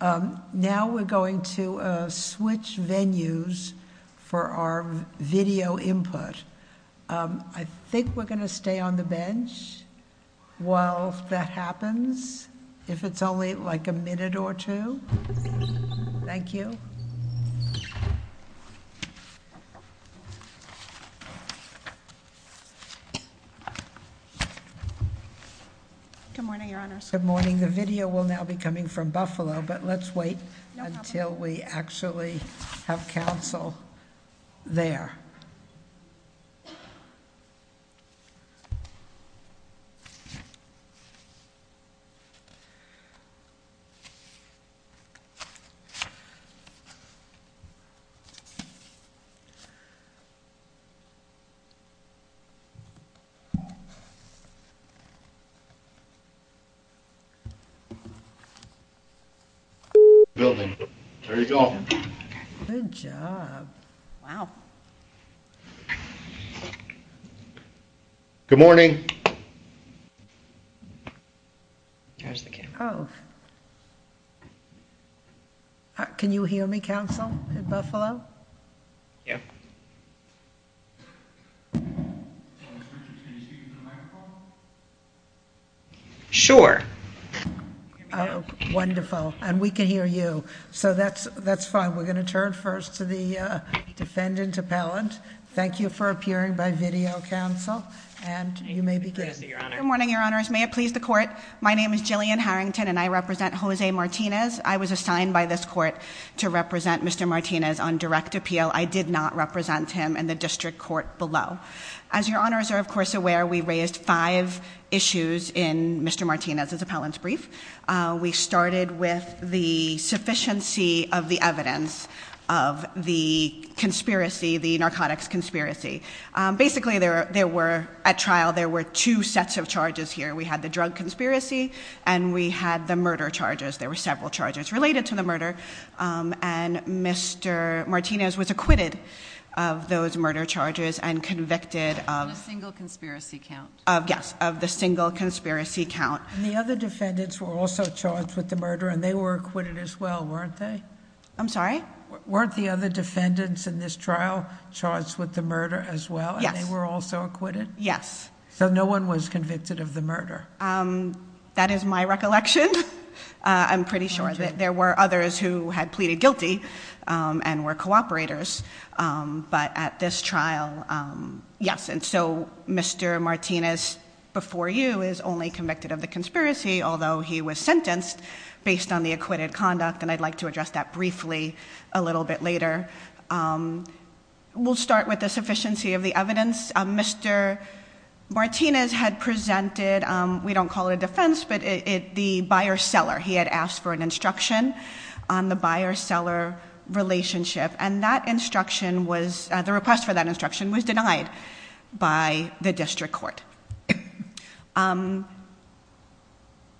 Um, now we're going to switch venues for our video input. Um, I think we're gonna stay on the bench while that happens, if it's only like a minute or two. Thank you. Good morning, Your Honors. Good morning. The video will now be coming from Buffalo, but let's wait until we actually have counsel there. Building. There you go. Good job. Wow. Good morning. There's the camera. Oh. Can you hear me, counsel in Buffalo? Yeah. Sure. Wonderful. And we can hear you. So that's, that's fine. We're going to turn first to the Good morning, Your Honors. May it please the court. My name is Jillian Harrington and I represent Jose Martinez. I was assigned by this court to represent Mr. Martinez on direct appeal. I did not represent him in the district court below. As Your Honors are, of course, aware, we raised five issues in Mr. Martinez's appellant's brief. Uh, we started with the sufficiency of the evidence of the conspiracy, the narcotics conspiracy. Basically there, there were at trial, there were two sets of charges here. We had the drug conspiracy and we had the murder charges. There were several charges related to the murder. Um, and Mr. Martinez was acquitted of those murder charges and convicted of a single conspiracy count of, yes, of the single conspiracy count. And the other defendants were also charged with the murder and they were acquitted as well, weren't they? I'm sorry? Weren't the other defendants in this trial charged with the murder as well and they were also acquitted? Yes. So no one was convicted of the murder? Um, that is my recollection. Uh, I'm pretty sure that there were others who had pleaded guilty, um, and were cooperators. Um, but at this trial, um, yes. And so Mr. Martinez before you is only convicted of the conspiracy, although he was sentenced based on the acquitted conduct. And I'd like to address that briefly a little bit later. Um, we'll start with the sufficiency of the evidence. Um, Mr. Martinez had presented, um, we don't call it a defense, but it, it, the buyer seller, he had asked for an instruction on the buyer seller relationship. And that instruction was, uh, the request for that instruction was denied by the district court. Um,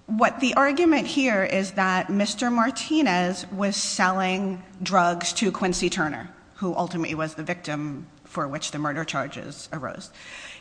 what the was selling drugs to Quincy Turner, who ultimately was the victim for which the murder charges arose.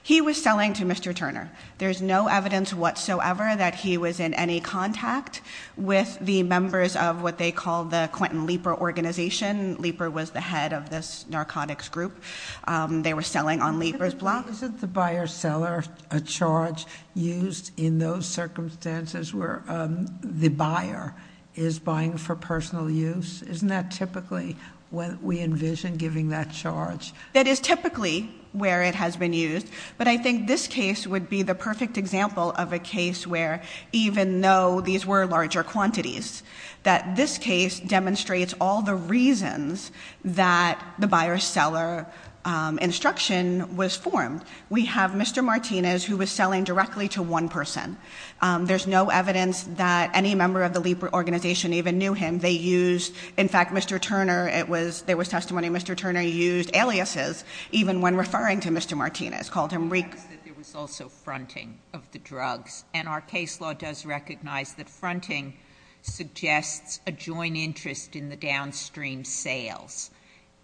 He was selling to Mr. Turner. There's no evidence whatsoever that he was in any contact with the members of what they call the Quentin Leaper organization. Leaper was the head of this narcotics group. Um, they were selling on Leaper's block. Isn't the buyer seller a charge used in those circumstances where, um, the buyer is buying for personal use? Isn't that typically what we envision giving that charge? That is typically where it has been used. But I think this case would be the perfect example of a case where even though these were larger quantities, that this case demonstrates all the reasons that the buyer seller, um, instruction was formed. We have Mr. Martinez who was selling directly to one person. Um, there's no evidence that any member of the Leaper organization even knew him. They used, in fact, Mr. Turner, it was, there was testimony, Mr. Turner used aliases, even when referring to Mr. Martinez, called him reek. There was also fronting of the drugs and our case law does recognize that fronting suggests a joint interest in the downstream sales.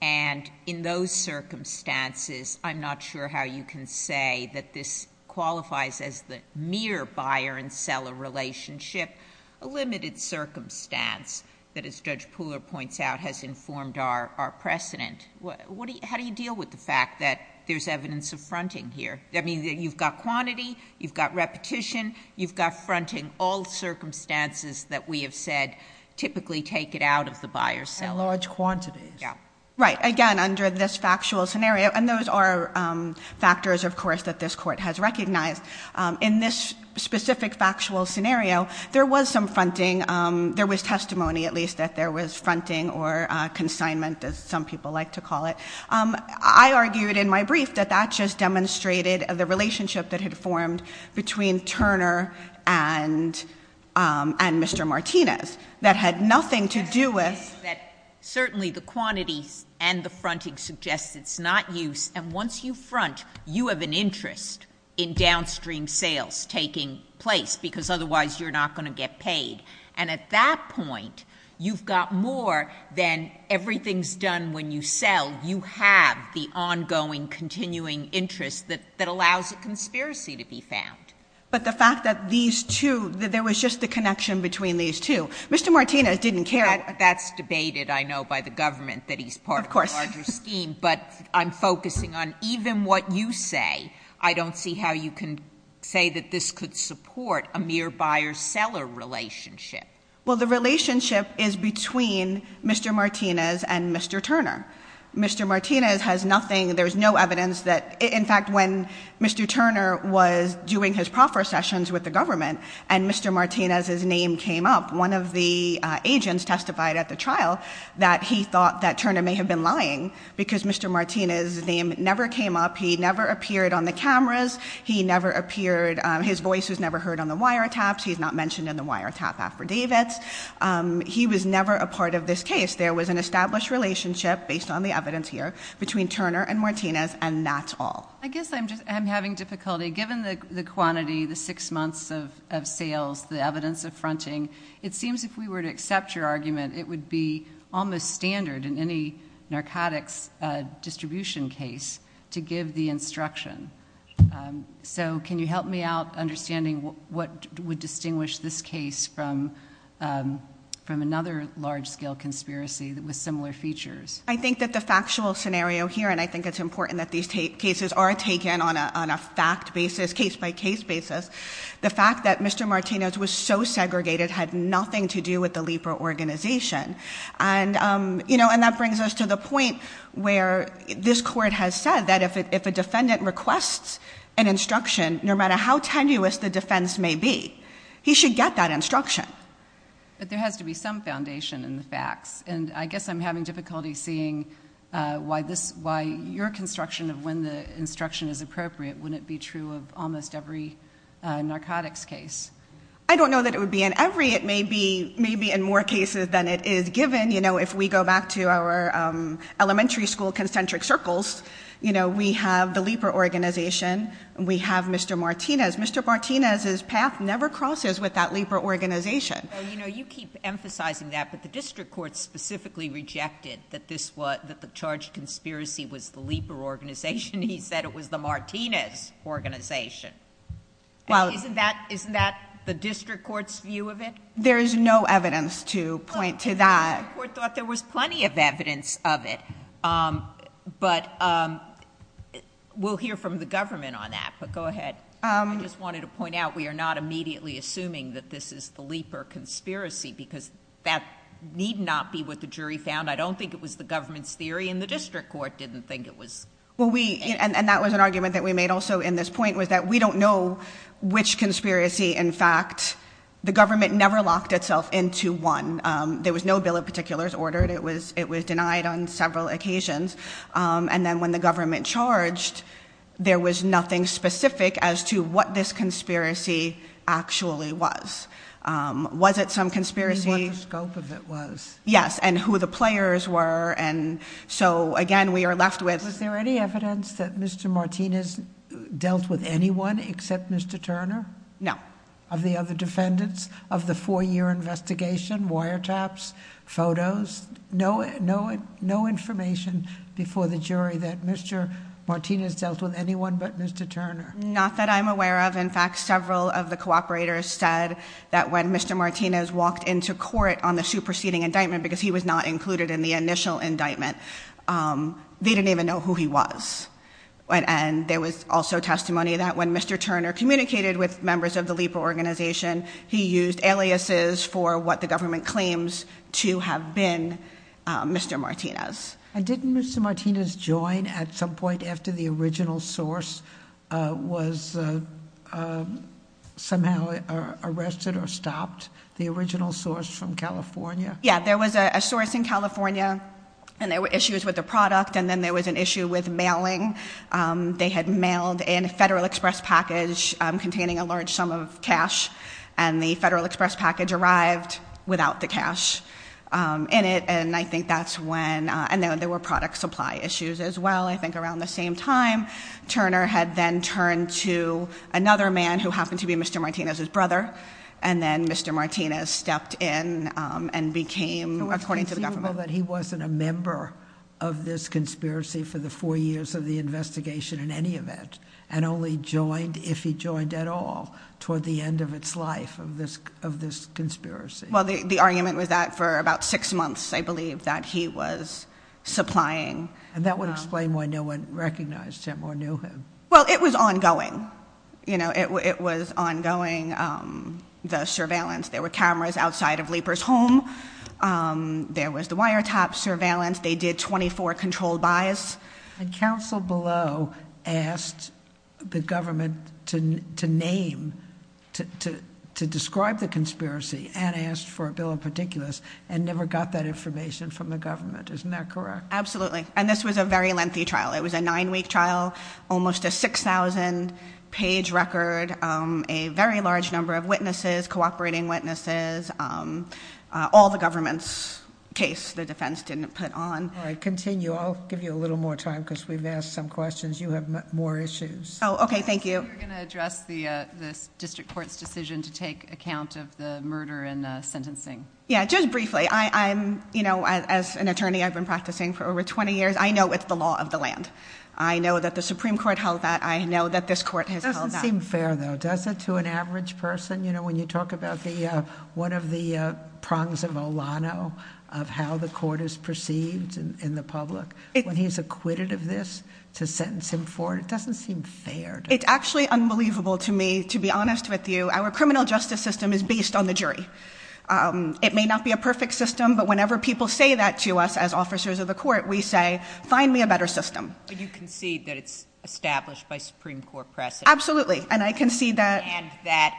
And in those circumstances, I'm not sure how you can say that this qualifies as the mere buyer and seller relationship, a limited circumstance that as Judge Pooler points out, has informed our, our precedent. What do you, how do you deal with the fact that there's evidence of fronting here? I mean, you've got quantity, you've got repetition, you've got fronting, all circumstances that we have said typically take it out of the buyer seller. And large quantities. Yeah. Right. Again, under this factual scenario, and those are, factors of course, that this court has recognized in this specific factual scenario, there was some fronting. There was testimony at least that there was fronting or consignment as some people like to call it. I argued in my brief that that just demonstrated the relationship that had formed between Turner and, and Mr. Martinez that had nothing to do with that. Certainly the quantities and the fronting suggests it's not use. And once you front, you have an interest in downstream sales taking place because otherwise you're not going to get paid. And at that point, you've got more than everything's done when you sell, you have the ongoing continuing interest that, that allows a conspiracy to be found. But the fact that these two, that there was just the connection between these two, Mr. Martinez didn't care. That's debated. I know by the government that he's part of the larger scheme, but I'm focusing on even what you say, I don't see how you can say that this could support a mere buyer seller relationship. Well, the relationship is between Mr. Martinez and Mr. Turner. Mr. Martinez has nothing. There was no evidence that in fact, when Mr. Turner was doing his proffer sessions with the trial, that he thought that Turner may have been lying because Mr. Martinez's name never came up. He never appeared on the cameras. He never appeared, his voice was never heard on the wiretaps. He's not mentioned in the wiretap affidavits. He was never a part of this case. There was an established relationship based on the evidence here between Turner and Martinez. And that's all. I guess I'm just, I'm having difficulty given the quantity, the six months of sales, the evidence of fronting. It seems if we were to accept your argument, it would be almost standard in any narcotics distribution case to give the instruction. So can you help me out understanding what would distinguish this case from another large scale conspiracy that was similar features? I think that the factual scenario here, and I think it's important that these cases are taken on a fact basis, case by case basis. The fact that Mr. Martinez was so segregated had nothing to do with the LEPRA organization. And that brings us to the point where this court has said that if a defendant requests an instruction, no matter how tenuous the defense may be, he should get that instruction. But there has to be some foundation in the facts. And I guess I'm having difficulty seeing why this, why your construction of when the instruction is appropriate, wouldn't it be true of almost every narcotics case? I don't know that it would be in every. It may be, maybe in more cases than it is given. You know, if we go back to our elementary school concentric circles, you know, we have the LEPRA organization and we have Mr. Martinez. Mr. Martinez's path never crosses with that LEPRA organization. You know, you keep emphasizing that, but the district court specifically rejected that this was, that the charged conspiracy was the LEPRA organization. He said it was the Martinez organization. Well, isn't that, isn't that the district court's view of it? There is no evidence to point to that. The district court thought there was plenty of evidence of it. But we'll hear from the government on that, but go ahead. I just wanted to point out, we are not immediately assuming that this is the conspiracy because that need not be what the jury found. I don't think it was the government's theory and the district court didn't think it was. Well, we, and that was an argument that we made also in this point was that we don't know which conspiracy. In fact, the government never locked itself into one. There was no bill of particulars ordered. It was, it was denied on several occasions. And then when the government charged, there was nothing specific as to what this conspiracy actually was. Was it some conspiracy? What the scope of it was. Yes. And who the players were. And so again, we are left with. Was there any evidence that Mr. Martinez dealt with anyone except Mr. Turner? No. Of the other defendants of the four-year investigation, wiretaps, photos, no, no, no information before the jury that Mr. Martinez dealt with anyone but Mr. Turner. Not that I'm aware of. In fact, several of the cooperators said that when Mr. Martinez walked into court on the superseding indictment, because he was not included in the initial indictment, they didn't even know who he was. And there was also testimony that when Mr. Turner communicated with members of the LEPA organization, he used aliases for what the government claims to have been Mr. Martinez. And didn't Mr. Martinez join at some point after the original source was somehow arrested or stopped? The original source from California? Yeah. There was a source in California and there were issues with the product. And then there was an issue with mailing. They had mailed in a Federal Express package containing a large sum of cash and the Federal Express package arrived without the cash in it. And I think that's when, and then there were product supply issues as well. I think around the same time, Turner had then turned to another man who happened to be Mr. Martinez's brother. And then Mr. Martinez stepped in and became, according to the government. It's conceivable that he wasn't a member of this conspiracy for the four years of the toward the end of its life of this conspiracy. Well, the argument was that for about six months, I believe that he was supplying. And that would explain why no one recognized him or knew him. Well, it was ongoing. It was ongoing, the surveillance. There were cameras outside of LEPA's home. There was the wiretap surveillance. They did 24 controlled buys. And counsel below asked the government to name, to describe the conspiracy and asked for a bill of particulars and never got that information from the government. Isn't that correct? Absolutely. And this was a very lengthy trial. It was a nine week trial, almost a 6,000 page record, a very large number of witnesses, cooperating witnesses, all the government's case, the defense didn't put on. Continue. I'll give you a little more time because we've asked some questions. You have more issues. Oh, okay. Thank you. We're going to address the district court's decision to take account of the murder and sentencing. Yeah, just briefly. As an attorney, I've been practicing for over 20 years. I know it's the law of the land. I know that the Supreme Court held that. I know that this court has held that. It doesn't seem fair though, does it, to an average person? When you talk about one of the prongs of Olano, of how the court is perceived in the public, when he's acquitted of this to sentence him for it, it doesn't seem fair. It's actually unbelievable to me, to be honest with you. Our criminal justice system is based on the jury. It may not be a perfect system, but whenever people say that to us as officers of the court, we say, find me a better system. But you concede that it's established by Supreme Court precedent. Absolutely. And I concede that. And that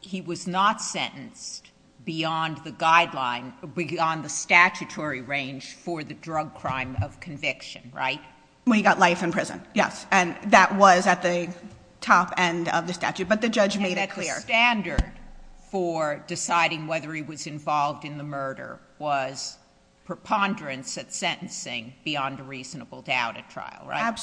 he was not sentenced beyond the guideline, beyond the statutory range for the drug crime of conviction, right? When he got life in prison, yes. And that was at the top end of the statute, but the judge made it clear. And that the standard for deciding whether he was involved in the murder was preponderance at sentencing beyond a reasonable doubt at trial, right? No,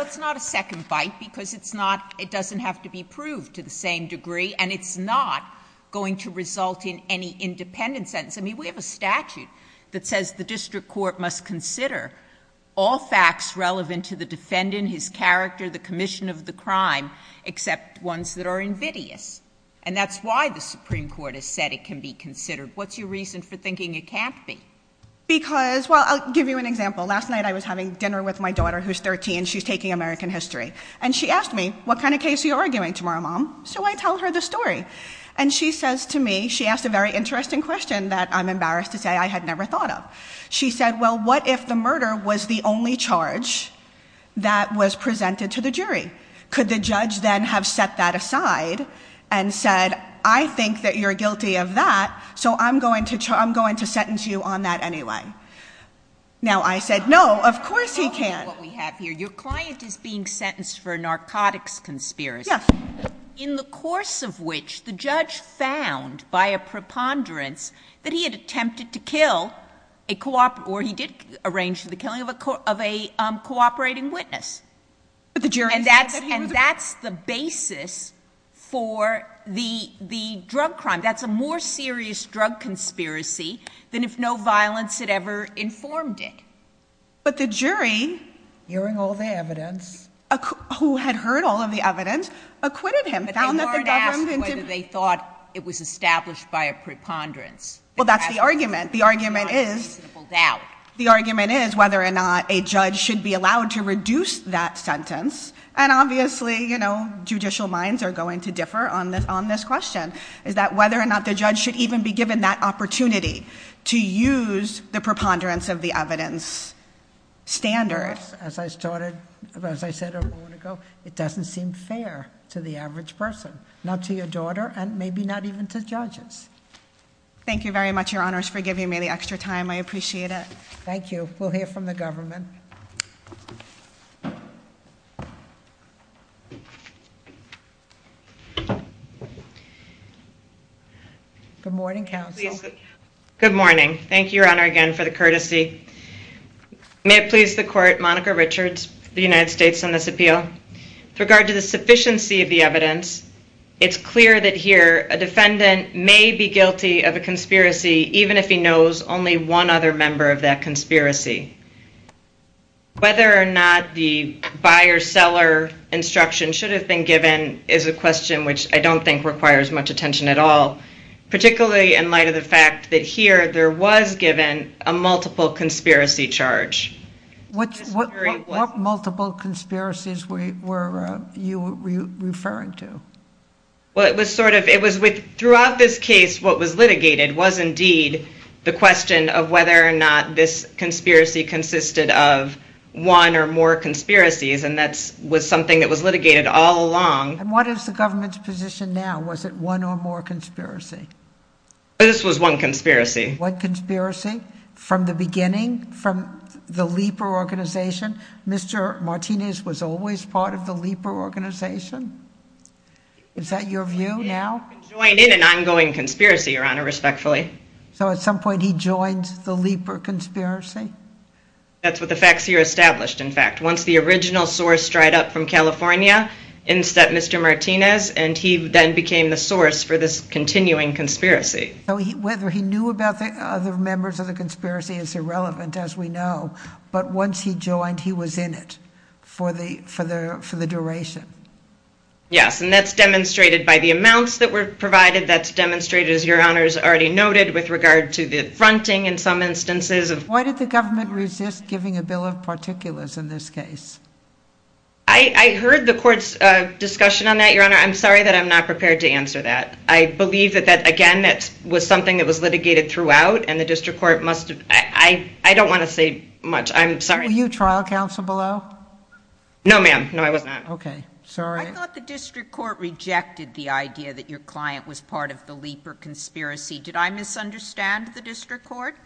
it's not a second bite, because it doesn't have to be proved to the same degree, and it's not going to result in any independent sentence. I mean, we have a statute that says the district court must consider all facts relevant to the defendant, his character, the commission of the crime, except ones that are invidious. And that's why the Supreme Court has said it can be considered. What's your reason for thinking it can't be? Because, well, I'll give you an example. Last night I was having dinner with my daughter, who's 13. She's taking American history. And she asked me, what kind of case are you arguing tomorrow, Mom? So I tell her the story. And she says to me, she asked a very interesting question that I'm embarrassed to say I had never thought of. She said, well, what if the murder was the only charge that was presented to the jury? Could the judge then have set that aside and said, I think that you're guilty of that, so I'm going to sentence you on that anyway? Now, I said, no, of course he can't. Let me tell you what we have here. Your client is being sentenced for a narcotics conspiracy, in the course of which the judge found by a preponderance that he had attempted to kill, or he did arrange the killing of a cooperating witness. And that's the basis for the drug crime. That's a more serious drug conspiracy than if no violence had ever informed it. But the jury, hearing all the evidence, who had heard all of the evidence, acquitted him. But they weren't asked whether they thought it was established by a preponderance. Well, that's the argument. The argument is whether or not a judge should be allowed to differ on this question. Is that whether or not the judge should even be given that opportunity to use the preponderance of the evidence standard. As I started, as I said a moment ago, it doesn't seem fair to the average person. Not to your daughter, and maybe not even to judges. Thank you very much, Your Honors, for giving me the extra time. I appreciate it. Thank you. We'll hear from the government. Good morning, counsel. Good morning. Thank you, Your Honor, again for the courtesy. May it please the court, Monica Richards, the United States, on this appeal. With regard to the sufficiency of the evidence, it's clear that here a defendant may be guilty of a conspiracy, even if he knows only one other member of that conspiracy. Whether or not the buyer-seller instruction should have been given is a question which I don't think requires much attention at all, particularly in light of the fact that here there was given a multiple conspiracy charge. What multiple conspiracies were you referring to? Well, it was sort of... Throughout this case, what was litigated was indeed the question of whether or not this conspiracy consisted of one or more conspiracies, and that was something that was litigated all along. And what is the government's position now? Was it one or more conspiracy? This was one conspiracy. One conspiracy from the beginning, from the LEPR organization? Mr. Martinez was always part of the LEPR organization? Is that your view now? He joined in an ongoing conspiracy, Your Honor, respectfully. So at some point he joined the LEPR conspiracy? That's what the facts here established, in fact. Once the original source dried up from California, instead Mr. Martinez, and he then became the source for this continuing conspiracy. Whether he knew about the other members of the conspiracy is irrelevant, as we know, but once he joined, he was in it for the duration. Yes, and that's demonstrated by the amounts that were provided. That's demonstrated, as Your Honor has already noted, with regard to the fronting in some instances. Why did the government resist giving a bill of particulars in this case? I heard the court's discussion on that, Your Honor. I'm sorry that I'm not prepared to answer that. I believe that, again, that was something that was litigated throughout, and the district court must have... I don't want to say much. I'm sorry. Were you trial counsel below? No, ma'am. No, I was not. Okay. Sorry. I thought the district court rejected the idea that your client was part of the Lieber conspiracy. Did I misunderstand the district court?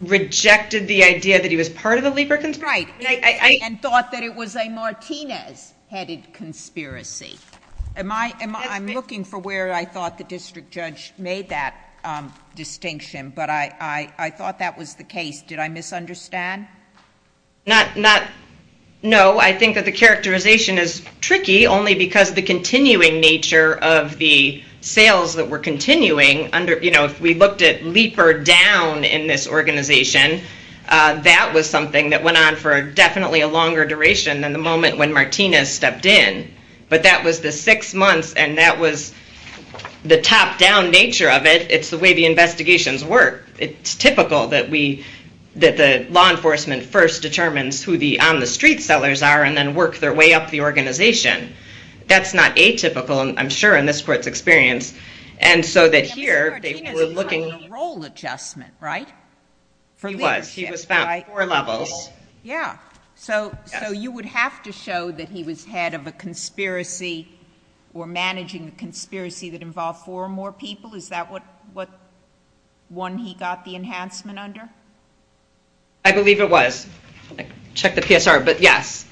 Rejected the idea that he was part of the Lieber conspiracy? Right, and thought that it was a Martinez-headed conspiracy. I'm looking for where I thought the district judge made that distinction, but I thought that was the case. Did I misunderstand? No, I think that the characterization is tricky only because of the continuing nature of the sales that were continuing. If we looked at Lieber down in this organization, that was something that went on for definitely a longer duration than the moment when Martinez stepped in, but that was the six months, and that was the top-down nature of it. It's the way the investigations work. It's typical that the law enforcement first determines who the on-the-street sellers are and then work their way up the organization. That's not atypical, I'm sure, in this court's experience, and so that here... Mr. Martinez is playing a role adjustment, right? He was. He was found at four levels. Yeah. So you would have to show that he was head of a conspiracy or managing a conspiracy that involved four or more people. Is that what one he got the enhancement under? I believe it was. I checked the PSR, but yes.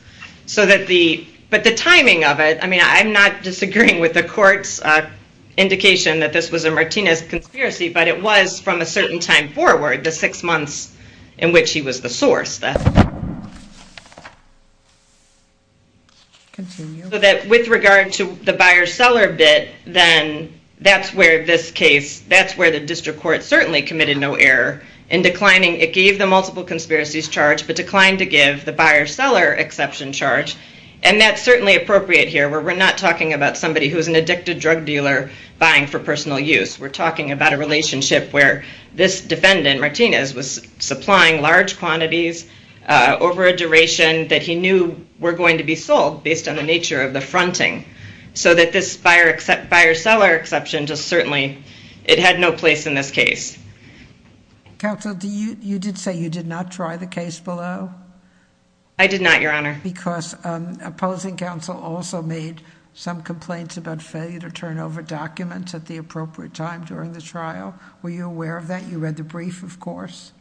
But the timing of it, I mean, I'm not disagreeing with the court's indication that this was a Martinez conspiracy, but it was from a certain time forward, the six months in which he was the source. So that with regard to the buyer-seller bit, then that's where this case... that's where the district court certainly committed no error in declining... it gave the multiple conspiracies charge, but declined to give the buyer-seller exception charge, and that's certainly appropriate here, where we're not talking about somebody who's an addicted drug dealer buying for personal use. We're talking about a relationship where this defendant, Martinez, was supplying large quantities over a duration that he knew were going to be sold based on the nature of the fronting, so that this buyer-seller exception just certainly... it had no place in this case. Counsel, you did say you did not try the case below? I did not, Your Honor. Because opposing counsel also made some complaints about failure to turn over documents at the appropriate time during the course.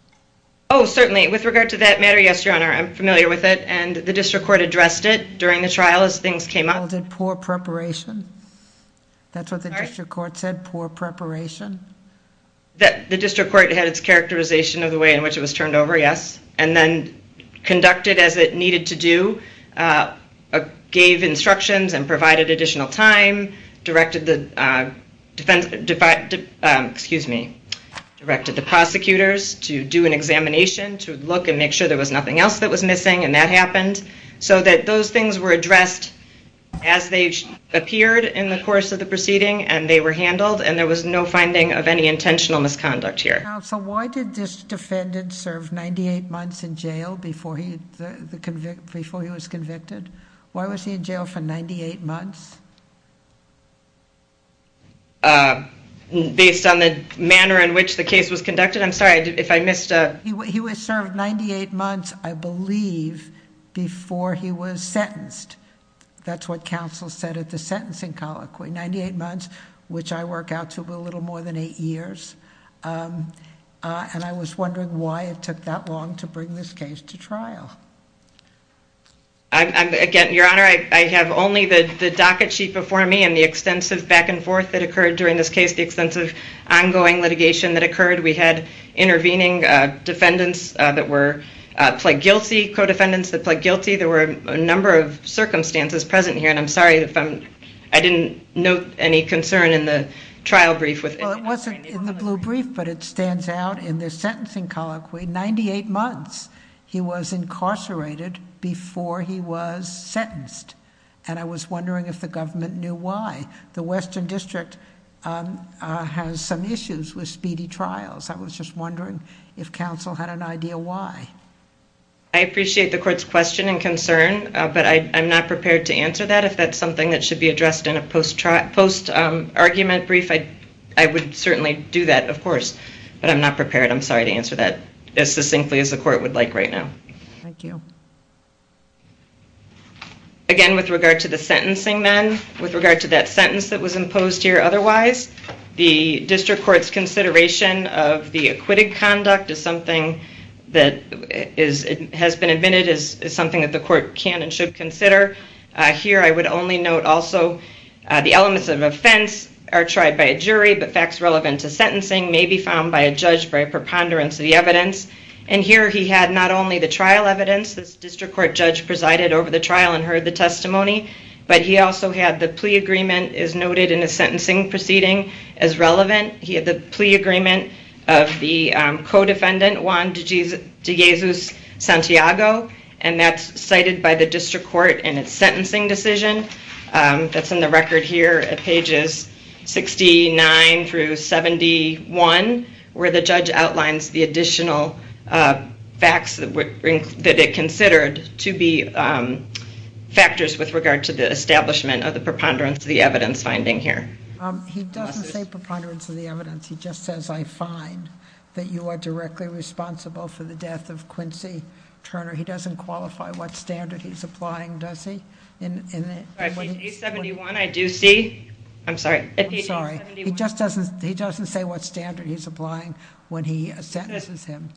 Oh, certainly. With regard to that matter, yes, Your Honor, I'm familiar with it, and the district court addressed it during the trial as things came up. Called it poor preparation? That's what the district court said, poor preparation? The district court had its characterization of the way in which it was turned over, yes, and then conducted as it needed to do, gave instructions and provided additional time, directed the defense... excuse me, directed the prosecutors to do an examination to look and make sure there was nothing else that was missing, and that happened, so that those things were addressed as they appeared in the course of the proceeding, and they were handled, and there was no finding of any intentional misconduct here. Counsel, why did this defendant serve 98 months in jail before he was convicted? Why was he in jail for 98 months? Based on the manner in which the case was conducted? I'm sorry, if I missed... He was served 98 months, I believe, before he was sentenced. That's what counsel said at the sentencing colloquy, 98 months, which I work out to be a little more than eight years, and I was wondering why it took that long to bring this case to trial. Again, Your Honor, I have only the docket sheet before me and the extensive back-and-forth that occurred during this case, the extensive ongoing litigation that occurred. We had intervening defendants that were pled guilty, co-defendants that pled guilty. There were a number of circumstances present here, and I'm sorry if I didn't note any concern in the trial brief. Well, it wasn't in the blue brief, but it stands out in the sentencing colloquy, 98 months he was incarcerated before he was sentenced, and I was wondering if the government knew why. The Western District has some issues with speedy trials. I was just wondering if counsel had an idea why. I appreciate the court's question and concern, but I'm not prepared to answer that. If that's something that should be addressed in a post-argument brief, I would certainly do that, of course, but I'm not prepared. I'm sorry to answer that as succinctly as the court would like right now. Thank you. Again, with regard to the sentencing then, with regard to that sentence that was imposed here otherwise, the district court's consideration of the acquitted conduct is something that has been admitted as something that the court can and should consider. Here, I would only note also the elements of offense are tried by a jury, but facts relevant to sentencing may be found by a jury. Here, he had not only the trial evidence. This district court judge presided over the trial and heard the testimony, but he also had the plea agreement as noted in the sentencing proceeding as relevant. He had the plea agreement of the co-defendant, Juan De Jesus Santiago, and that's cited by the district court in its sentencing decision. That's in the record here at pages 69 through 71, where the judge outlines the additional facts that it considered to be factors with regard to the establishment of the preponderance of the evidence finding here. He doesn't say preponderance of the evidence. He just says, I find that you are directly responsible for the death of Quincy Turner. He doesn't qualify what standard he's applying, does he? Page 71, I do see. I'm sorry. He just doesn't say what standard he's applying when he sentences him.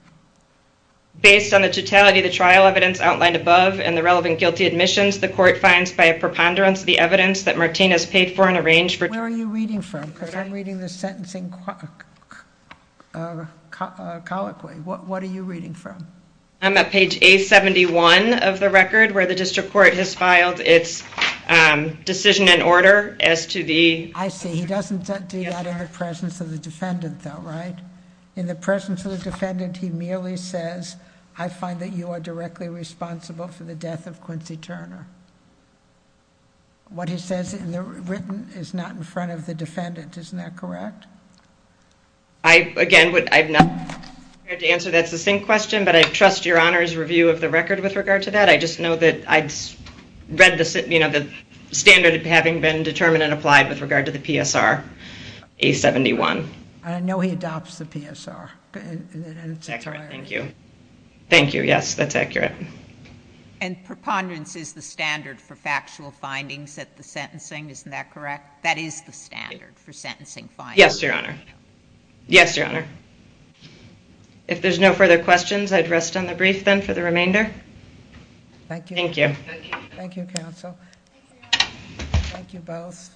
Based on the totality of the trial evidence outlined above and the relevant guilty admissions, the court finds by a preponderance of the evidence that Martinez paid for and arranged for. Where are you reading from? Because I'm reading the sentencing colloquy. What are you reading from? I'm at page A71 of the record, where the district court has filed its decision and order as to the... I see. He doesn't do that in the presence of the defendant though, right? In the presence of the defendant, he merely says, I find that you are directly responsible for the death of Quincy Turner. What he says in the written is not in the... Again, I'm not prepared to answer that succinct question, but I trust your Honor's review of the record with regard to that. I just know that I've read the standard having been determined and applied with regard to the PSR, A71. I know he adopts the PSR. Thank you. Thank you. Yes, that's accurate. And preponderance is the standard for factual findings at the sentencing, isn't that correct? That is the standard for sentencing findings? Yes, your Honor. Yes, your Honor. If there's no further questions, I'd rest on the brief then for the remainder. Thank you. Thank you. Thank you, counsel. Thank you both.